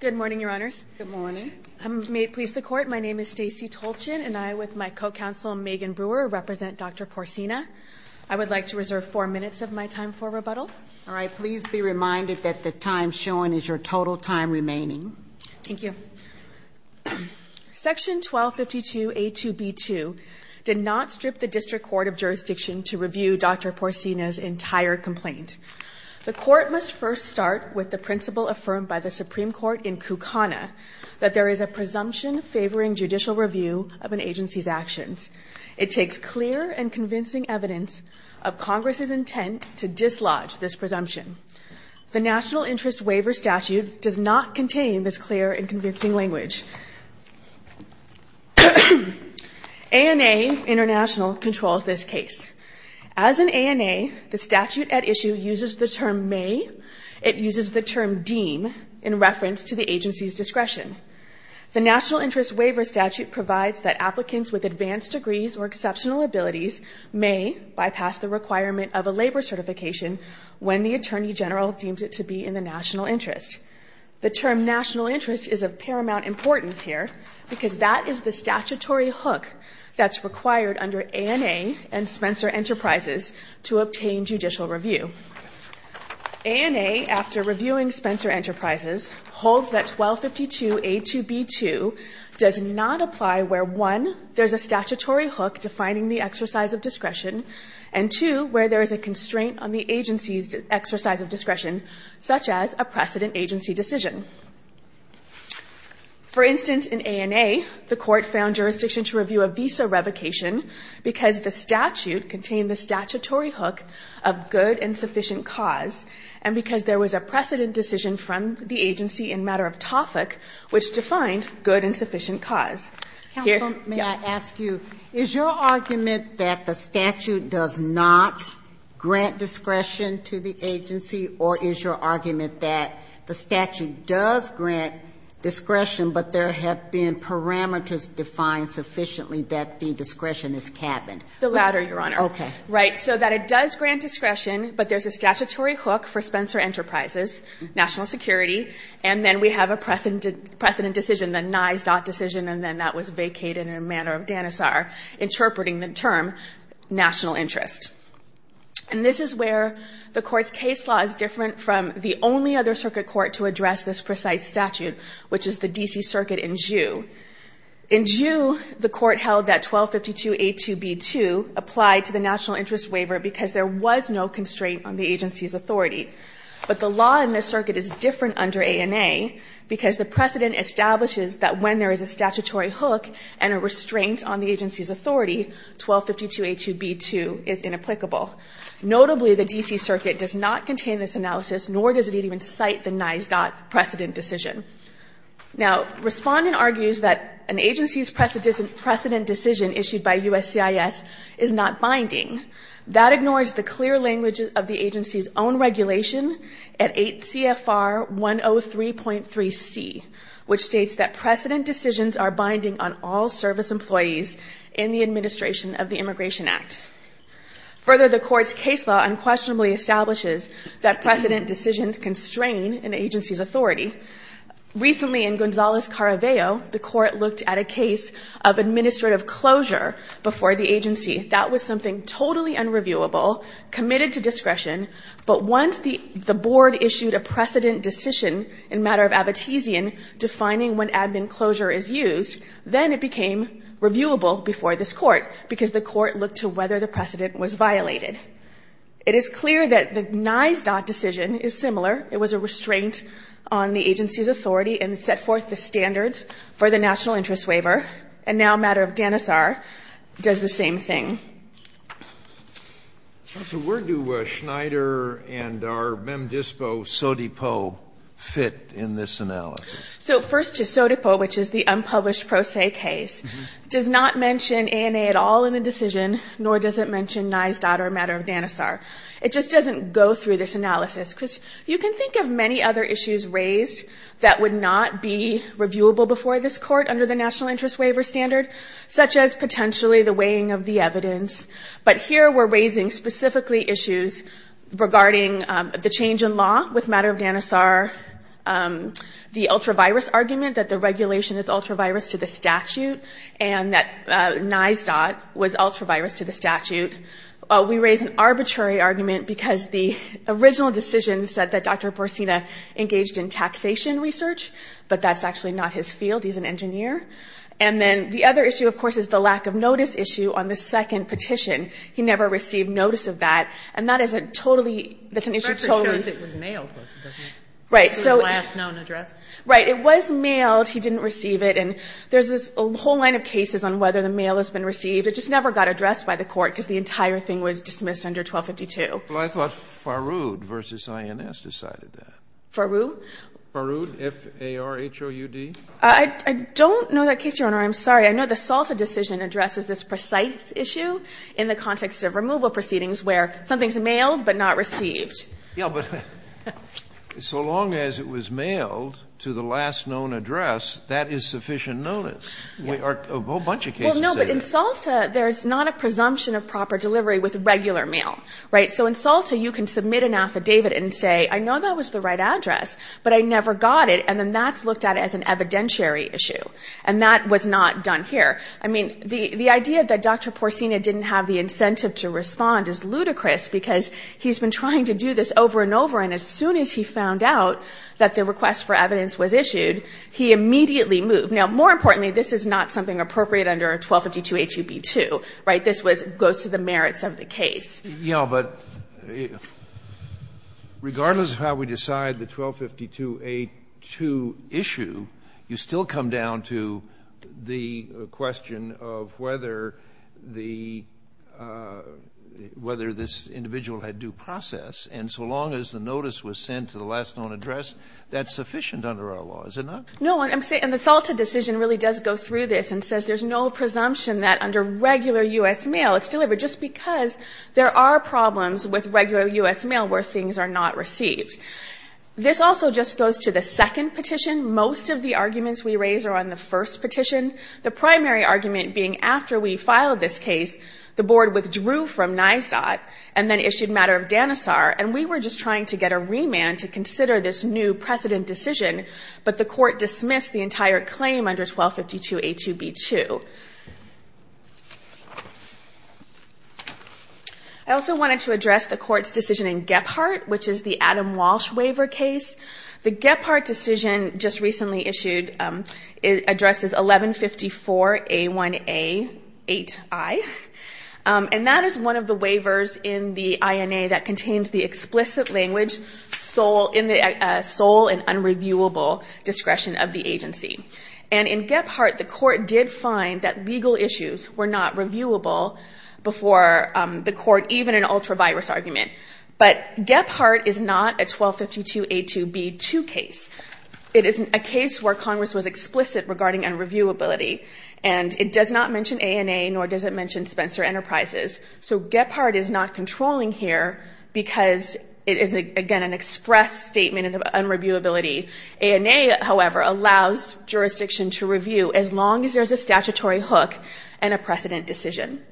Good morning, Your Honors. Good morning. May it please the Court, my name is Stacey Tolchin and I, with my co-counsel Megan Brewer, represent Dr. Poursina. I would like to reserve four minutes of my time for rebuttal. All right, please be reminded that the time shown is your total time remaining. Thank you. Section 1252A2B2 did not strip the District Court of Jurisdiction to review Dr. Poursina's entire complaint. The Court must first start with the principle affirmed by the Supreme Court in Kukana that there is a presumption favoring judicial review of an agency's actions. It takes clear and convincing evidence of Congress's intent to dislodge this presumption. The National Interest Waiver Statute does not contain this clear and convincing language. ANA International controls this case. As an ANA, the statute at issue uses the term may. It uses the term deem in reference to the agency's discretion. The National Interest Waiver Statute provides that applicants with advanced degrees or exceptional abilities may bypass the requirement of a labor certification when the Attorney General deems it to be in the national interest. The term national interest is of paramount importance here because that is the statutory hook that is required under ANA and Spencer Enterprises to obtain judicial review. ANA, after reviewing Spencer Enterprises, holds that 1252A2B2 does not apply where 1. there is a statutory hook defining the exercise of discretion and 2. where there is a constraint on the agency's exercise of discretion, such as a precedent agency decision. For instance, in ANA, the Court found jurisdiction to review a visa revocation because the statute contained the statutory hook of good and sufficient cause and because there was a precedent decision from the agency in matter of topic which defined good and sufficient cause. Here, yes. Ginsburg-Mills, I ask you, is your argument that the statute does not grant discretion to the agency or is your argument that the statute does grant discretion but there have been parameters defined sufficiently that the discretion is capped? The latter, Your Honor. Okay. Right. So that it does grant discretion, but there's a statutory hook for Spencer Enterprises, national security, and then we have a precedent decision, the NISDOT decision, and then that was vacated in a matter of DANISAR interpreting the term national interest. And this is where the Court's case law is different from the only other circuit court to address this precise statute, which is the D.C. Circuit in Jew. In Jew, the Court held that 1252A2B2 applied to the national interest waiver because there was no constraint on the agency's authority. But the law in this circuit is different under ANA because the precedent establishes that when there is a statutory hook and a restraint on the agency's authority, 1252A2B2 is inapplicable. Notably, the D.C. Circuit does not contain this analysis, nor does it even cite the NISDOT precedent decision. Now, respondent argues that an agency's precedent decision issued by USCIS is not binding. That ignores the clear language of the agency's own regulation at 8 CFR 103.3C, which states that precedent decisions are binding on all service employees in the administration of the Immigration Act. Further, the Court's case law unquestionably establishes that precedent decisions constrain an agency's authority. Recently, in Gonzales-Caraveo, the Court looked at a case of administrative closure before the agency. That was something totally unreviewable, committed to discretion. But once the board issued a precedent decision in matter of Abitizian defining when admin closure is used, then it became reviewable before this Court, because the Court looked to whether the precedent was violated. It is clear that the NISDOT decision is similar. It was a restraint on the agency's authority and set forth the standards for the national interest waiver, and now matter of Danisar does the same thing. Sotomayor, where do Schneider and our MemDISPO, SODIPO fit in this analysis? So first to SODIPO, which is the unpublished Pro Se case, does not mention ANA at all in the decision, nor does it mention NISDOT or matter of Danisar. It just doesn't go through this analysis. You can think of many other issues raised that would not be reviewable before this Court under the national interest waiver standard, such as potentially the weighing of the evidence. But here we're raising specifically issues regarding the change in law with matter of Danisar, the ultra-virus argument that the regulation is ultra-virus to the statute, and that NISDOT was ultra-virus to the statute. We raise an arbitrary argument because the original decision said that Dr. Borsina engaged in taxation research, but that's actually not his field. He's an engineer. And then the other issue, of course, is the lack of notice issue on the second petition. He never received notice of that, and that is a totally, that's an issue totally. Sotomayor, I guess it was mailed, wasn't it? Right. So it's a last known address. Right. It was mailed. He didn't receive it. And there's this whole line of cases on whether the mail has been received. It just never got addressed by the Court, because the entire thing was dismissed under 1252. Well, I thought Farood v. INS decided that. Farood? Farood, F-A-R-O-U-D. I don't know that case, Your Honor. I'm sorry. I know the Salta decision addresses this precise issue in the context of removal proceedings where something's mailed but not received. Yeah, but so long as it was mailed to the last known address, that is sufficient notice. A whole bunch of cases say that. Well, no, but in Salta, there's not a presumption of proper delivery with regular mail, right? So in Salta, you can submit an affidavit and say, I know that was the right address, but I never got it. And then that's looked at as an evidentiary issue. And that was not done here. I mean, the idea that Dr. Porcina didn't have the incentive to respond is ludicrous because he's been trying to do this over and over, and as soon as he found out that the request for evidence was issued, he immediately moved. Now, more importantly, this is not something appropriate under 1252a2b2, right? This was goes to the merits of the case. Yeah, but regardless of how we decide the 1252a2 issue, you still come down to the whether this individual had due process. And so long as the notice was sent to the last known address, that's sufficient under our law, is it not? No, and the Salta decision really does go through this and says there's no presumption that under regular U.S. mail, it's delivered just because there are problems with regular U.S. mail where things are not received. This also just goes to the second petition. Most of the arguments we raise are on the first petition. The primary argument being after we filed this case, the board withdrew from NYSDOT and then issued matter of Danisar, and we were just trying to get a remand to consider this new precedent decision, but the court dismissed the entire claim under 1252a2b2. I also wanted to address the court's decision in Gephardt, which is the Adam Walsh waiver case. The Gephardt decision just recently issued addresses 1154a1a8i, and that is one of the waivers in the INA that contains the explicit language, sole and unreviewable discretion of the agency. And in Gephardt, the court did find that legal issues were not reviewable before the court, even in an ultra-virus argument. But Gephardt is not a 1252a2b2 case. It is a case where Congress was explicit regarding unreviewability, and it does not mention ANA nor does it mention Spencer Enterprises. So Gephardt is not controlling here because it is, again, an express statement of unreviewability. ANA, however, allows jurisdiction to review as long as there's a statutory hook and a precedent decision.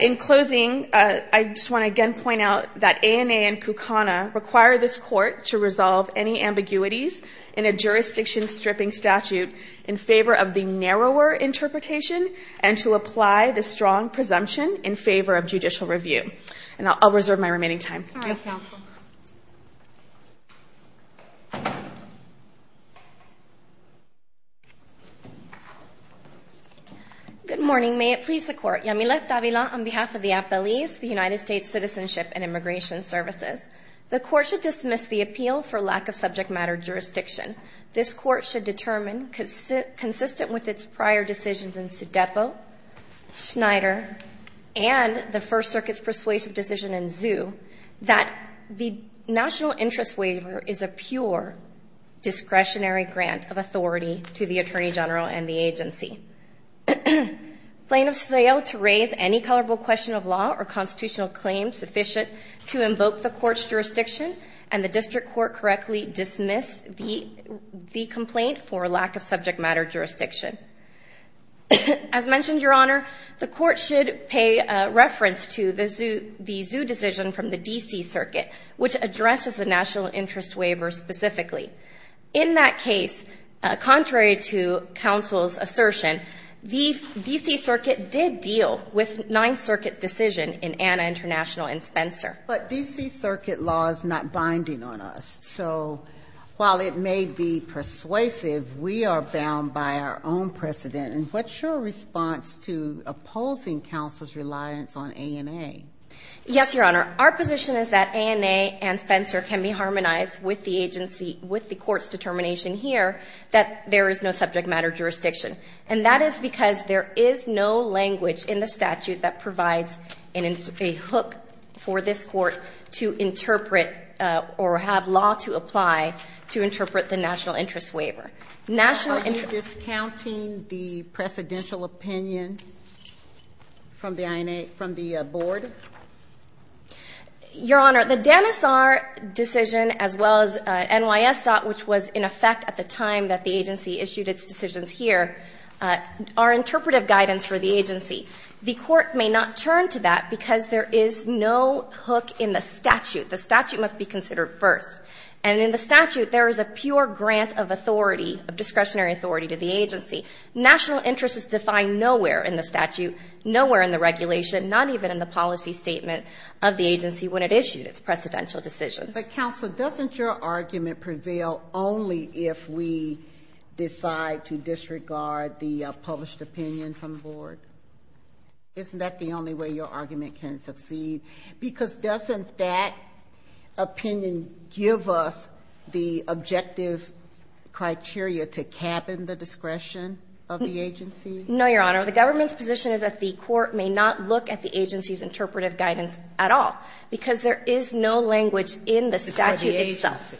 In closing, I just want to again point out that ANA and KUKANA require this court to resolve any ambiguities in a jurisdiction-stripping statute in favor of the narrower interpretation and to apply the strong presumption in favor of judicial review. And I'll reserve my remaining time. Thank you. GOTTLIEB. All right, counsel. MS. GOTTLIEB. Good morning. May it please the Court. Yamilet Davila on behalf of the appellees, the United States Citizenship and Immigration Services. The Court should dismiss the appeal for lack of subject matter jurisdiction. This Court should determine, consistent with its prior decisions in Sudeppo, Schneider, and the First Circuit's persuasive decision in Zou, that the national interest waiver is a pure discretionary grant of authority to the Attorney General and the agency. Plaintiffs fail to raise any colorable question of law or constitutional claim sufficient to invoke the Court's jurisdiction and the district court correctly dismiss the complaint for lack of subject matter jurisdiction. As mentioned, Your Honor, the Court should pay reference to the Zou decision from the D.C. Circuit, which addresses the national interest waiver specifically. In that case, contrary to counsel's assertion, the D.C. Circuit did deal with Ninth Circuit's decision in Anna International and Spencer. But D.C. Circuit law is not binding on us. So, while it may be persuasive, we are bound by our own precedent. And what's your response to opposing counsel's reliance on ANA? Yes, Your Honor. Our position is that ANA and Spencer can be harmonized with the agency, with the Court's determination here that there is no subject matter jurisdiction. And that is because there is no language in the statute that provides a hook for this interpret or have law to apply to interpret the national interest waiver. National interest. Are you discounting the precedential opinion from the INA, from the board? Your Honor, the Danisar decision, as well as NYS. which was in effect at the time that the agency issued its decisions here, are interpretive guidance for the agency. The Court may not turn to that because there is no hook in the statute. The statute must be considered first. And in the statute, there is a pure grant of authority, of discretionary authority to the agency. National interest is defined nowhere in the statute, nowhere in the regulation, not even in the policy statement of the agency when it issued its precedential decisions. But, counsel, doesn't your argument prevail only if we decide to disregard the published opinion from the board? Isn't that the only way your argument can succeed? Because doesn't that opinion give us the objective criteria to cap in the discretion of the agency? No, Your Honor. The government's position is that the Court may not look at the agency's interpretive guidance at all because there is no language in the statute itself.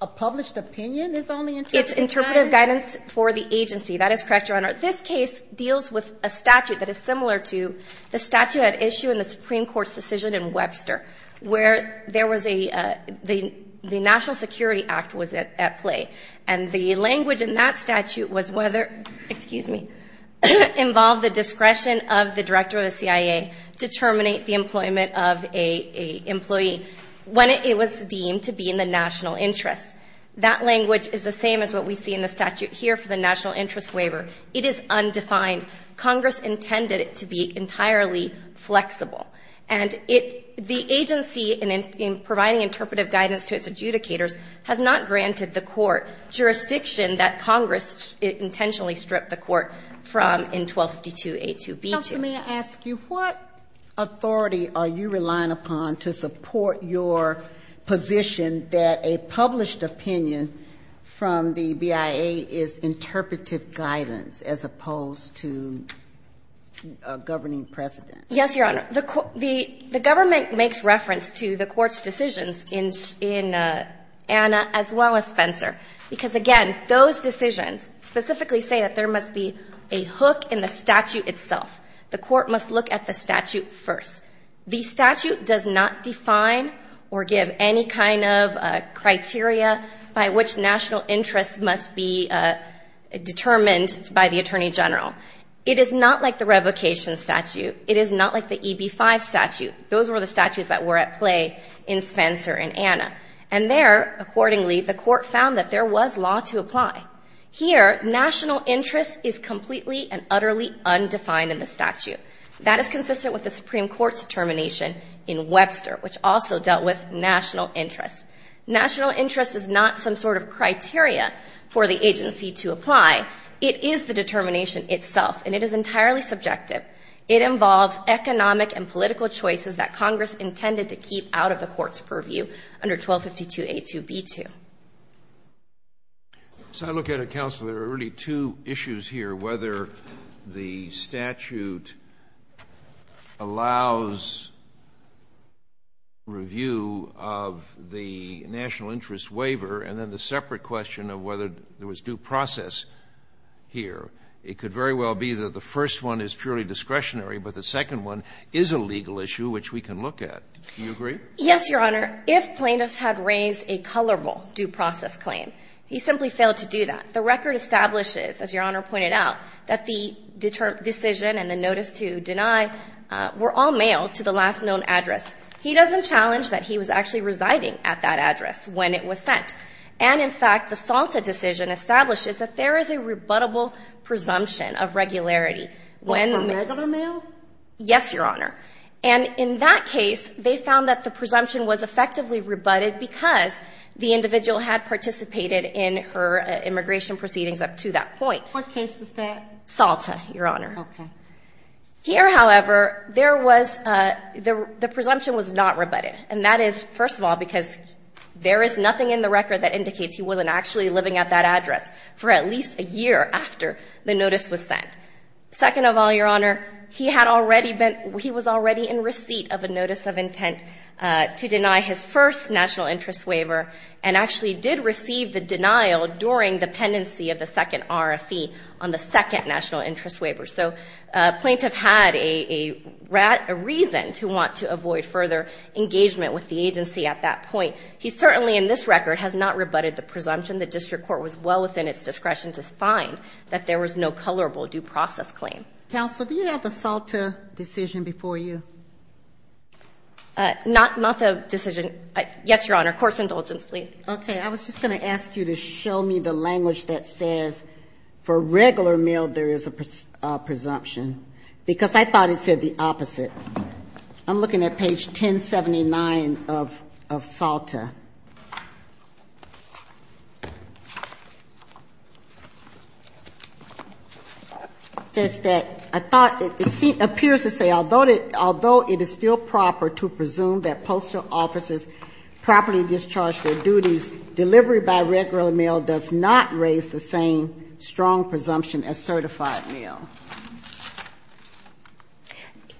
A published opinion is only interpretive guidance? It's interpretive guidance for the agency. That is correct, Your Honor. This case deals with a statute that is similar to the statute at issue in the Supreme Court's decision in Webster where there was a the National Security Act was at play. And the language in that statute was whether, excuse me, involved the discretion of the director of the CIA to terminate the employment of an employee when it was deemed to be in the national interest. That language is the same as what we see in the statute here for the national interest waiver. It is undefined. Congress intended it to be entirely flexible. And it the agency in providing interpretive guidance to its adjudicators has not granted the Court jurisdiction that Congress intentionally stripped the Court from in 1252a2b2. Counsel, may I ask you, what authority are you relying upon to support your position that a published opinion from the BIA is interpretive guidance as opposed to a governing precedent? Yes, Your Honor. The government makes reference to the Court's decisions in Anna as well as Spencer. Because, again, those decisions specifically say that there must be a hook in the statute itself. The Court must look at the statute first. The statute does not define or give any kind of criteria by which national interest must be determined by the Attorney General. It is not like the revocation statute. It is not like the EB-5 statute. Those were the statutes that were at play in Spencer and Anna. And there, accordingly, the Court found that there was law to apply. Here, national interest is completely and utterly undefined in the statute. That is consistent with the Supreme Court's determination in Webster, which also dealt with national interest. National interest is not some sort of criteria for the agency to apply. It is the determination itself, and it is entirely subjective. It involves economic and political choices that Congress intended to keep out of the Court's purview under 1252a2b2. So I look at it, counsel, there are really two issues here, whether the statute allows review of the national interest waiver and then the separate question of whether there was due process here. It could very well be that the first one is purely discretionary, but the second one is a legal issue which we can look at. Do you agree? Yes, Your Honor. If plaintiffs had raised a colorable due process claim, he simply failed to do that. The record establishes, as Your Honor pointed out, that the decision and the notice to deny were all mailed to the last known address. He doesn't challenge that he was actually residing at that address when it was sent. And, in fact, the SALTA decision establishes that there is a rebuttable presumption of regularity when the mail was sent. For regular mail? Yes, Your Honor. And in that case, they found that the presumption was effectively rebutted because the individual had participated in her immigration proceedings up to that point. What case was that? SALTA, Your Honor. Okay. Here, however, there was the presumption was not rebutted, and that is, first of all, because there is nothing in the record that indicates he wasn't actually living at that address for at least a year after the notice was sent. Second of all, Your Honor, he had already been, he was already in receipt of a notice of intent to deny his first national interest waiver, and actually did receive the denial during the pendency of the second RFE on the second national interest waiver. So a plaintiff had a reason to want to avoid further engagement with the agency at that point. He certainly, in this record, has not rebutted the presumption. And the district court was well within its discretion to find that there was no colorable due process claim. Counsel, do you have the SALTA decision before you? Not the decision. Yes, Your Honor. Court's indulgence, please. Okay. I was just going to ask you to show me the language that says for regular mail, there is a presumption, because I thought it said the opposite. I'm looking at page 1079 of SALTA. It says that, I thought, it appears to say, although it is still proper to presume that postal officers properly discharge their duties, delivery by regular mail does not raise the same strong presumption as certified mail.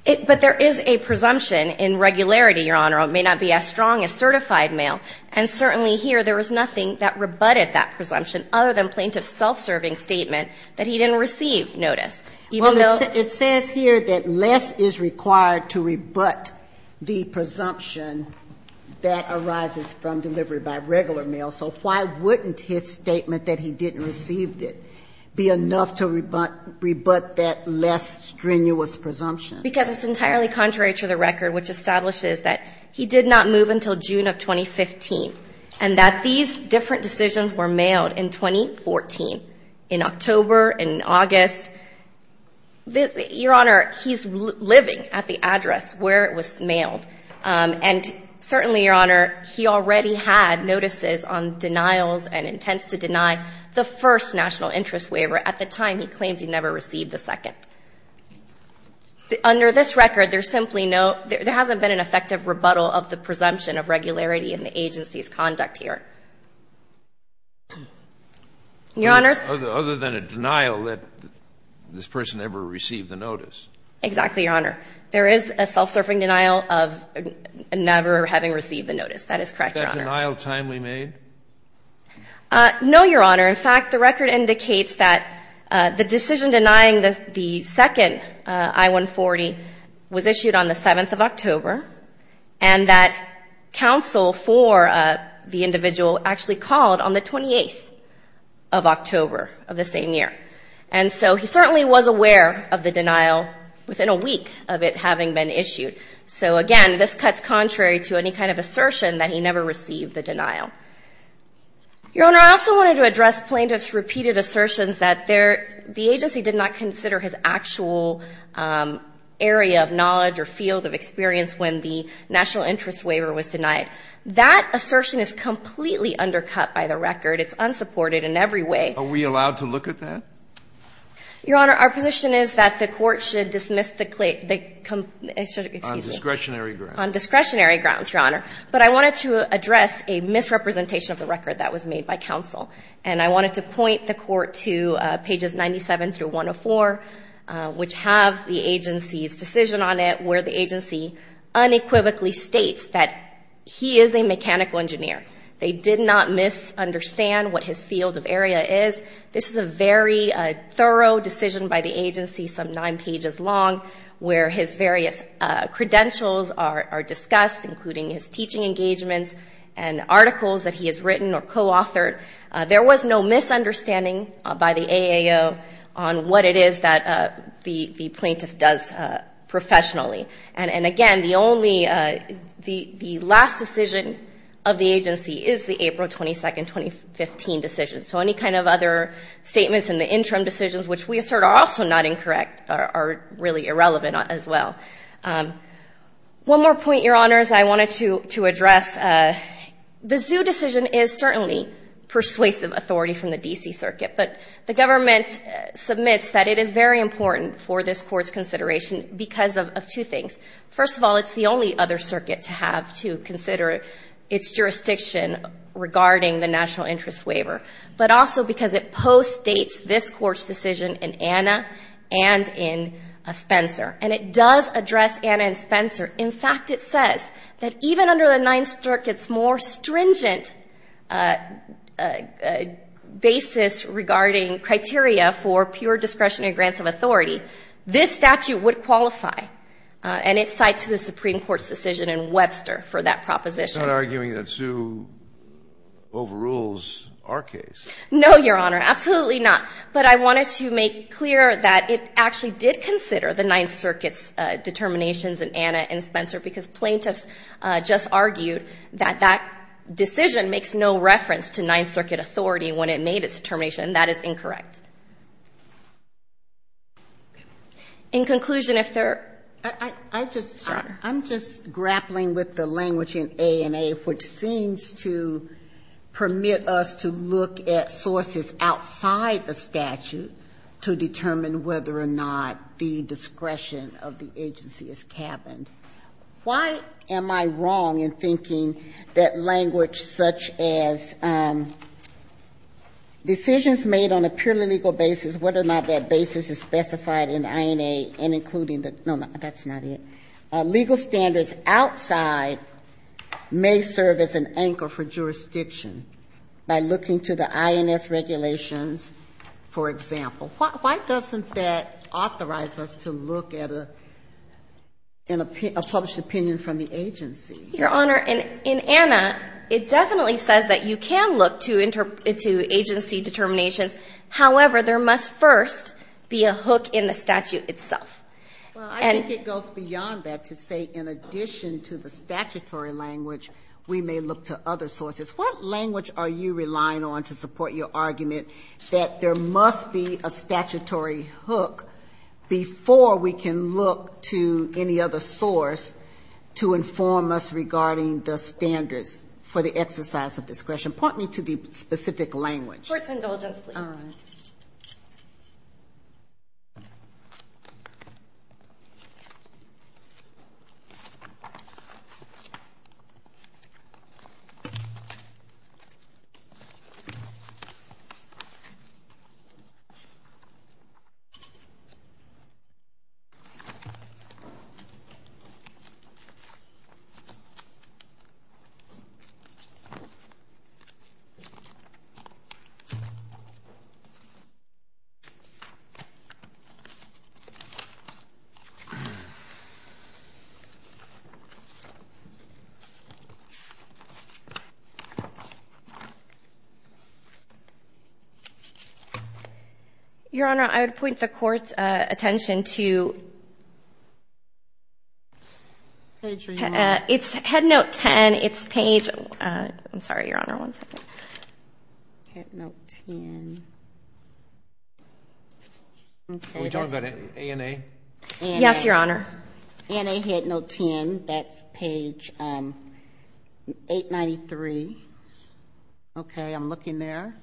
But there is a presumption in regularity, Your Honor. It may not be as strong as certified mail. And certainly here, there was nothing that rebutted that presumption other than plaintiff's self-serving statement that he didn't receive notice. Well, it says here that less is required to rebut the presumption that arises from delivery by regular mail. So why wouldn't his statement that he didn't receive it be enough to rebut that less strenuous presumption? Because it's entirely contrary to the record, which establishes that he did not move until June of 2015, and that these different decisions were mailed in 2014, in October, in August. Your Honor, he's living at the address where it was mailed. And certainly, Your Honor, he already had notices on denials and intents to deny the first national interest waiver at the time he claimed he never received the second. Under this record, there's simply no – there hasn't been an effective rebuttal of the presumption of regularity in the agency's conduct here. Your Honor? Other than a denial that this person never received the notice. Exactly, Your Honor. There is a self-serving denial of never having received the notice. That is correct, Your Honor. Is that denial timely made? No, Your Honor. In fact, the record indicates that the decision denying the second I-140 was issued on the 7th of October, and that counsel for the individual actually called on the 28th of October of the same year. And so he certainly was aware of the denial within a week of it having been issued. So, again, this cuts contrary to any kind of assertion that he never received the denial. Your Honor, I also wanted to address plaintiff's repeated assertions that the agency did not consider his actual area of knowledge or field of experience when the national interest waiver was denied. That assertion is completely undercut by the record. It's unsupported in every way. Are we allowed to look at that? Your Honor, our position is that the Court should dismiss the claim. Excuse me. On discretionary grounds. On discretionary grounds, Your Honor. But I wanted to address a misrepresentation of the record that was made by counsel. And I wanted to point the Court to pages 97 through 104, which have the agency's decision on it, where the agency unequivocally states that he is a mechanical engineer. They did not misunderstand what his field of area is. This is a very thorough decision by the agency, some nine pages long, where his various credentials are discussed, including his teaching engagements and articles that he has written or co-authored. There was no misunderstanding by the AAO on what it is that the plaintiff does professionally. And, again, the only the last decision of the agency is the April 22, 2015 decision. So any kind of other statements in the interim decisions, which we assert are also not incorrect, are really irrelevant as well. One more point, Your Honors, I wanted to address. The ZHU decision is certainly persuasive authority from the D.C. Circuit. But the government submits that it is very important for this Court's consideration because of two things. First of all, it's the only other circuit to have to consider its jurisdiction regarding the National Interest Waiver, but also because it postdates this Court's decision in Anna and in Spencer. And it does address Anna and Spencer. In fact, it says that even under the Ninth Circuit's more stringent basis regarding criteria for pure discretionary grants of authority, this statute would qualify. And it cites the Supreme Court's decision in Webster for that proposition. It's not arguing that ZHU overrules our case. No, Your Honor, absolutely not. But I wanted to make clear that it actually did consider the Ninth Circuit's determinations in Anna and Spencer because plaintiffs just argued that that decision makes no reference to Ninth Circuit authority when it made its determination. And that is incorrect. In conclusion, if there are other questions, Your Honor. to determine whether or not the discretion of the agency is cabined. Why am I wrong in thinking that language such as decisions made on a purely legal basis, whether or not that basis is specified in INA and including the no, no, that's not it. Legal standards outside may serve as an anchor for jurisdiction by looking to the INS regulations, for example. Why doesn't that authorize us to look at a published opinion from the agency? Your Honor, in Anna, it definitely says that you can look to agency determinations. However, there must first be a hook in the statute itself. Well, I think it goes beyond that to say in addition to the statutory language, we may look to other sources. What language are you relying on to support your argument that there must be a statutory hook before we can look to any other source to inform us regarding the standards for the exercise of discretion? Point me to the specific language. Court's indulgence, please. All right. Thank you. Your Honor, I would point the Court's attention to Headnote 10. I'm sorry, Your Honor, one second. Headnote 10. Are we talking about ANA? Yes, Your Honor. ANA Headnote 10. I think that's page 893. Okay, I'm looking there.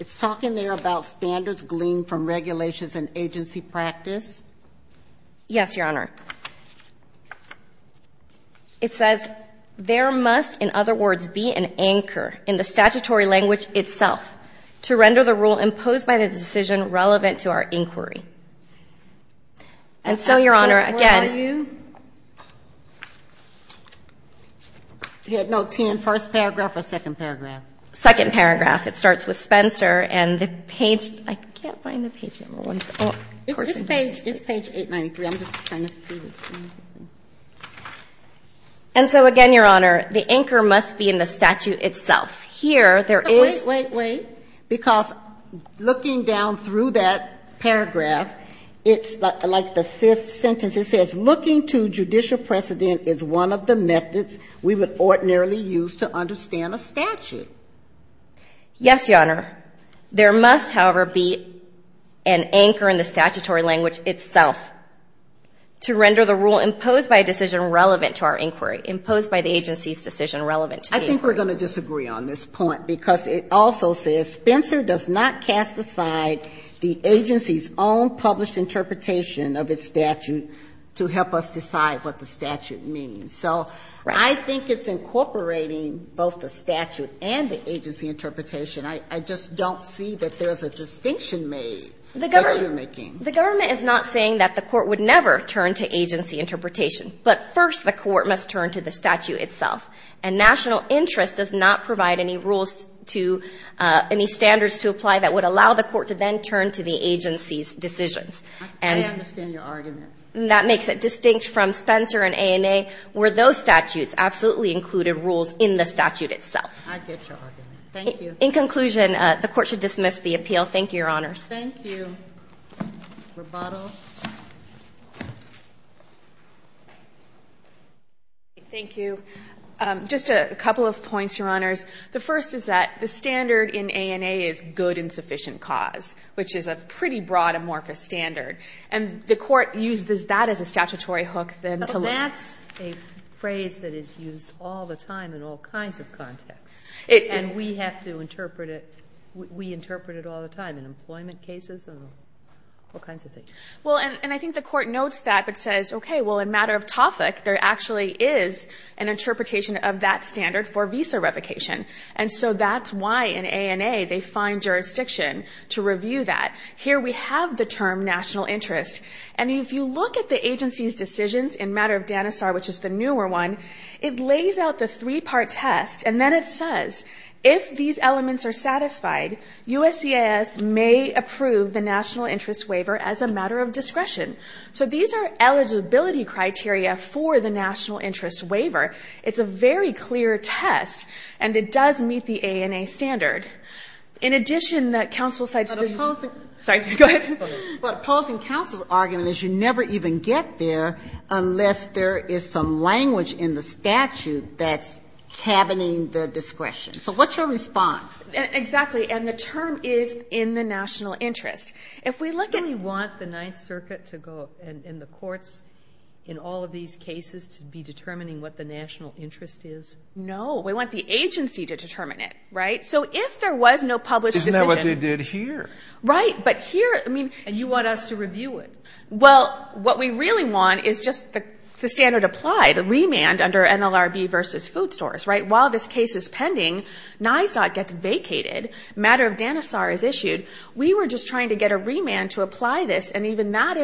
It's talking there about standards gleaned from regulations and agency practice. Yes, Your Honor. It says there must, in other words, be an anchor in the statutory language itself to render the rule imposed by the decision relevant to our inquiry. And so, Your Honor, again. Where are you? Headnote 10, first paragraph or second paragraph? Second paragraph. It starts with Spencer and the page ‑‑ I can't find the page number. It's page 893. I'm just trying to see. And so, again, Your Honor, the anchor must be in the statute itself. Here there is ‑‑ Wait, wait, wait. Because looking down through that paragraph, it's like the fifth sentence. It says looking to judicial precedent is one of the methods we would ordinarily use to understand a statute. Yes, Your Honor. There must, however, be an anchor in the statutory language itself to render the rule imposed by a decision relevant to our inquiry, imposed by the agency's decision relevant to the inquiry. I think we're going to disagree on this point because it also says Spencer does not cast aside the agency's own published interpretation of its statute to help us decide what the statute means. So I think it's incorporating both the statute and the agency interpretation. I just don't see that there's a distinction made that you're making. The government is not saying that the court would never turn to agency interpretation. But first the court must turn to the statute itself. And national interest does not provide any rules to ‑‑ any standards to apply that would allow the court to then turn to the agency's decisions. I understand your argument. That makes it distinct from Spencer and ANA where those statutes absolutely included rules in the statute itself. I get your argument. Thank you. In conclusion, the Court should dismiss the appeal. Thank you, Your Honors. Thank you. Rebuttal. Thank you. Just a couple of points, Your Honors. The first is that the standard in ANA is good and sufficient cause, which is a pretty broad, amorphous standard. And the Court uses that as a statutory hook then to look ‑‑ But that's a phrase that is used all the time in all kinds of contexts. It is. And we have to interpret it. We interpret it all the time in employment cases and all kinds of things. Well, and I think the Court notes that but says, okay, well, in matter of topic, there actually is an interpretation of that standard for visa revocation. And so that's why in ANA they find jurisdiction to review that. Here we have the term national interest. And if you look at the agency's decisions in matter of DANASAR, which is the newer one, it lays out the three‑part test. And then it says, if these elements are satisfied, USCIS may approve the national interest waiver as a matter of discretion. So these are eligibility criteria for the national interest waiver. It's a very clear test. And it does meet the ANA standard. In addition, the council ‑‑ But opposing ‑‑ Sorry. Go ahead. But opposing council's argument is you never even get there unless there is some So what's your response? Exactly. And the term is in the national interest. If we look at ‑‑ Do we want the Ninth Circuit to go and the courts in all of these cases to be determining what the national interest is? No. We want the agency to determine it, right? So if there was no published decision ‑‑ Isn't that what they did here? Right. But here, I mean ‑‑ And you want us to review it. Well, what we really want is just the standard applied, the remand under NLRB versus food stores, right? While this case is pending, NISDOT gets vacated. Matter of Danisar is issued. We were just trying to get a remand to apply this, and even that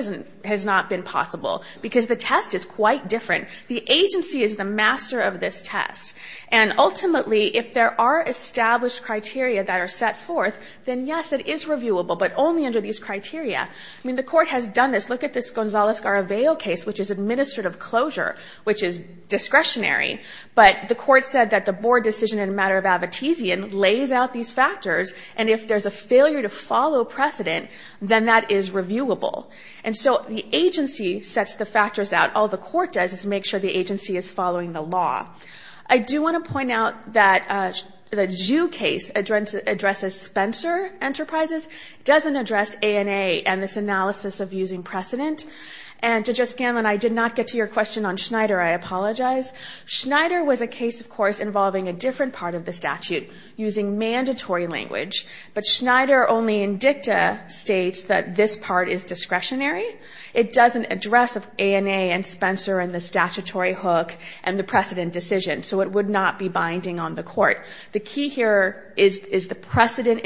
has not been possible because the test is quite different. The agency is the master of this test. And ultimately, if there are established criteria that are set forth, then yes, it is reviewable, but only under these criteria. I mean, the court has done this. Look at this Gonzalez‑Garaveo case, which is administrative closure, which is discretionary. But the court said that the board decision in a matter of Abitizian lays out these factors, and if there's a failure to follow precedent, then that is reviewable. And so the agency sets the factors out. All the court does is make sure the agency is following the law. I do want to point out that the Zhu case addresses Spencer Enterprises. It doesn't address ANA and this analysis of using precedent. And Judge O'Scanlan, I did not get to your question on Schneider. I apologize. Schneider was a case, of course, involving a different part of the statute, using mandatory language. But Schneider only in dicta states that this part is discretionary. It doesn't address ANA and Spencer and the statutory hook and the precedent decision. So it would not be binding on the court. The key here is the precedent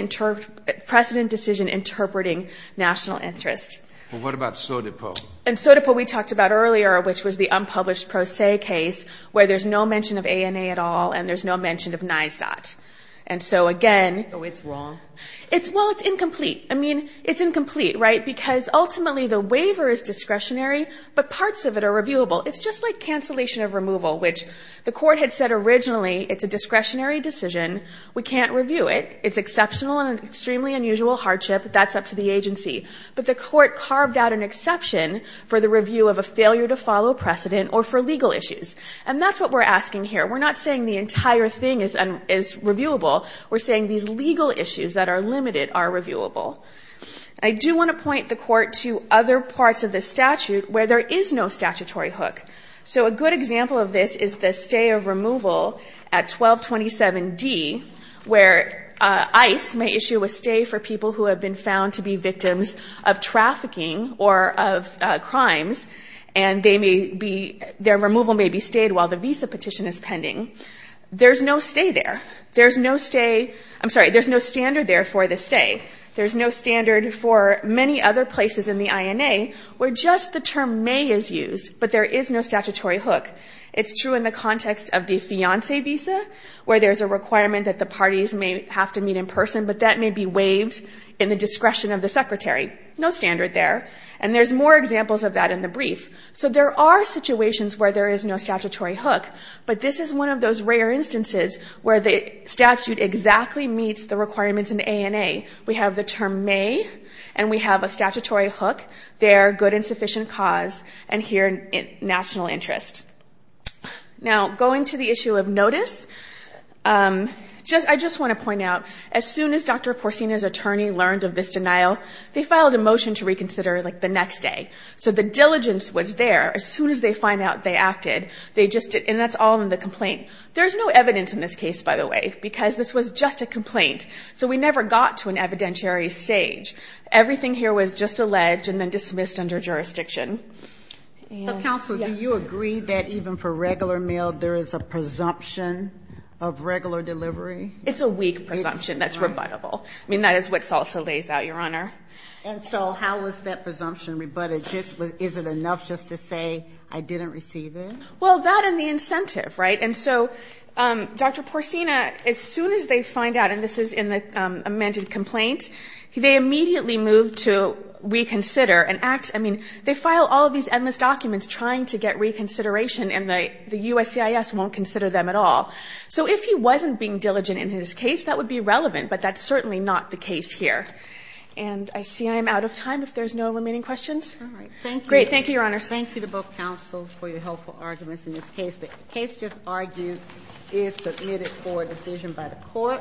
decision interpreting national interest. What about Sotepo? And Sotepo we talked about earlier, which was the unpublished Pro Se case, where there's no mention of ANA at all and there's no mention of NYSDOT. So it's wrong? Well, it's incomplete. I mean, it's incomplete, right? Because ultimately the waiver is discretionary, but parts of it are reviewable. It's just like cancellation of removal, which the court had said originally it's a discretionary decision. We can't review it. It's exceptional and an extremely unusual hardship. That's up to the agency. But the court carved out an exception for the review of a failure to follow precedent or for legal issues. And that's what we're asking here. We're not saying the entire thing is reviewable. We're saying these legal issues that are limited are reviewable. I do want to point the court to other parts of the statute where there is no statutory hook. So a good example of this is the stay of removal at 1227D, where ICE may issue a stay for people who have been found to be victims of trafficking or of crimes, and they may be, their removal may be stayed while the visa petition is pending. There's no stay there. There's no stay, I'm sorry, there's no standard there for the stay. There's no standard for many other places in the INA where just the term may is used, but there is no statutory hook. It's true in the context of the fiancé visa, where there's a requirement that the parties may have to meet in person, but that may be waived in the discretion of the secretary. No standard there. And there's more examples of that in the brief. So there are situations where there is no statutory hook, but this is one of those rare instances where the statute exactly meets the requirements in the INA. We have the term may, and we have a statutory hook there, good and sufficient cause, and here, national interest. Now, going to the issue of notice, I just want to point out, as soon as Dr. Porcina's attorney learned of this denial, they filed a motion to reconsider, like, the next day. So the diligence was there. As soon as they find out they acted, they just did, and that's all in the complaint. There's no evidence in this case, by the way, because this was just a complaint. So we never got to an evidentiary stage. Everything here was just alleged and then dismissed under jurisdiction. So, counsel, do you agree that even for regular mail, there is a presumption of regular delivery? It's a weak presumption that's rebuttable. I mean, that is what SALSA lays out, Your Honor. And so how is that presumption rebutted? Is it enough just to say, I didn't receive it? Well, that and the incentive, right? And so Dr. Porcina, as soon as they find out, and this is in the amended complaint, they immediately move to reconsider and act. I mean, they file all of these endless documents trying to get reconsideration, and the USCIS won't consider them at all. So if he wasn't being diligent in his case, that would be relevant, but that's certainly not the case here. And I see I'm out of time, if there's no remaining questions. Great. Thank you, Your Honor. Thank you to both counsel for your helpful arguments in this case. The case just argued is submitted for a decision by the Court.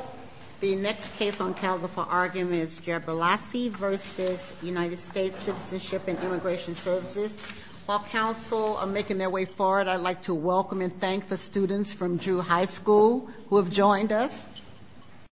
The next case on calendar for argument is Jabrilasi v. United States Citizenship and Immigration Services. While counsel are making their way forward, I'd like to welcome and thank the students from Drew High School who have joined us.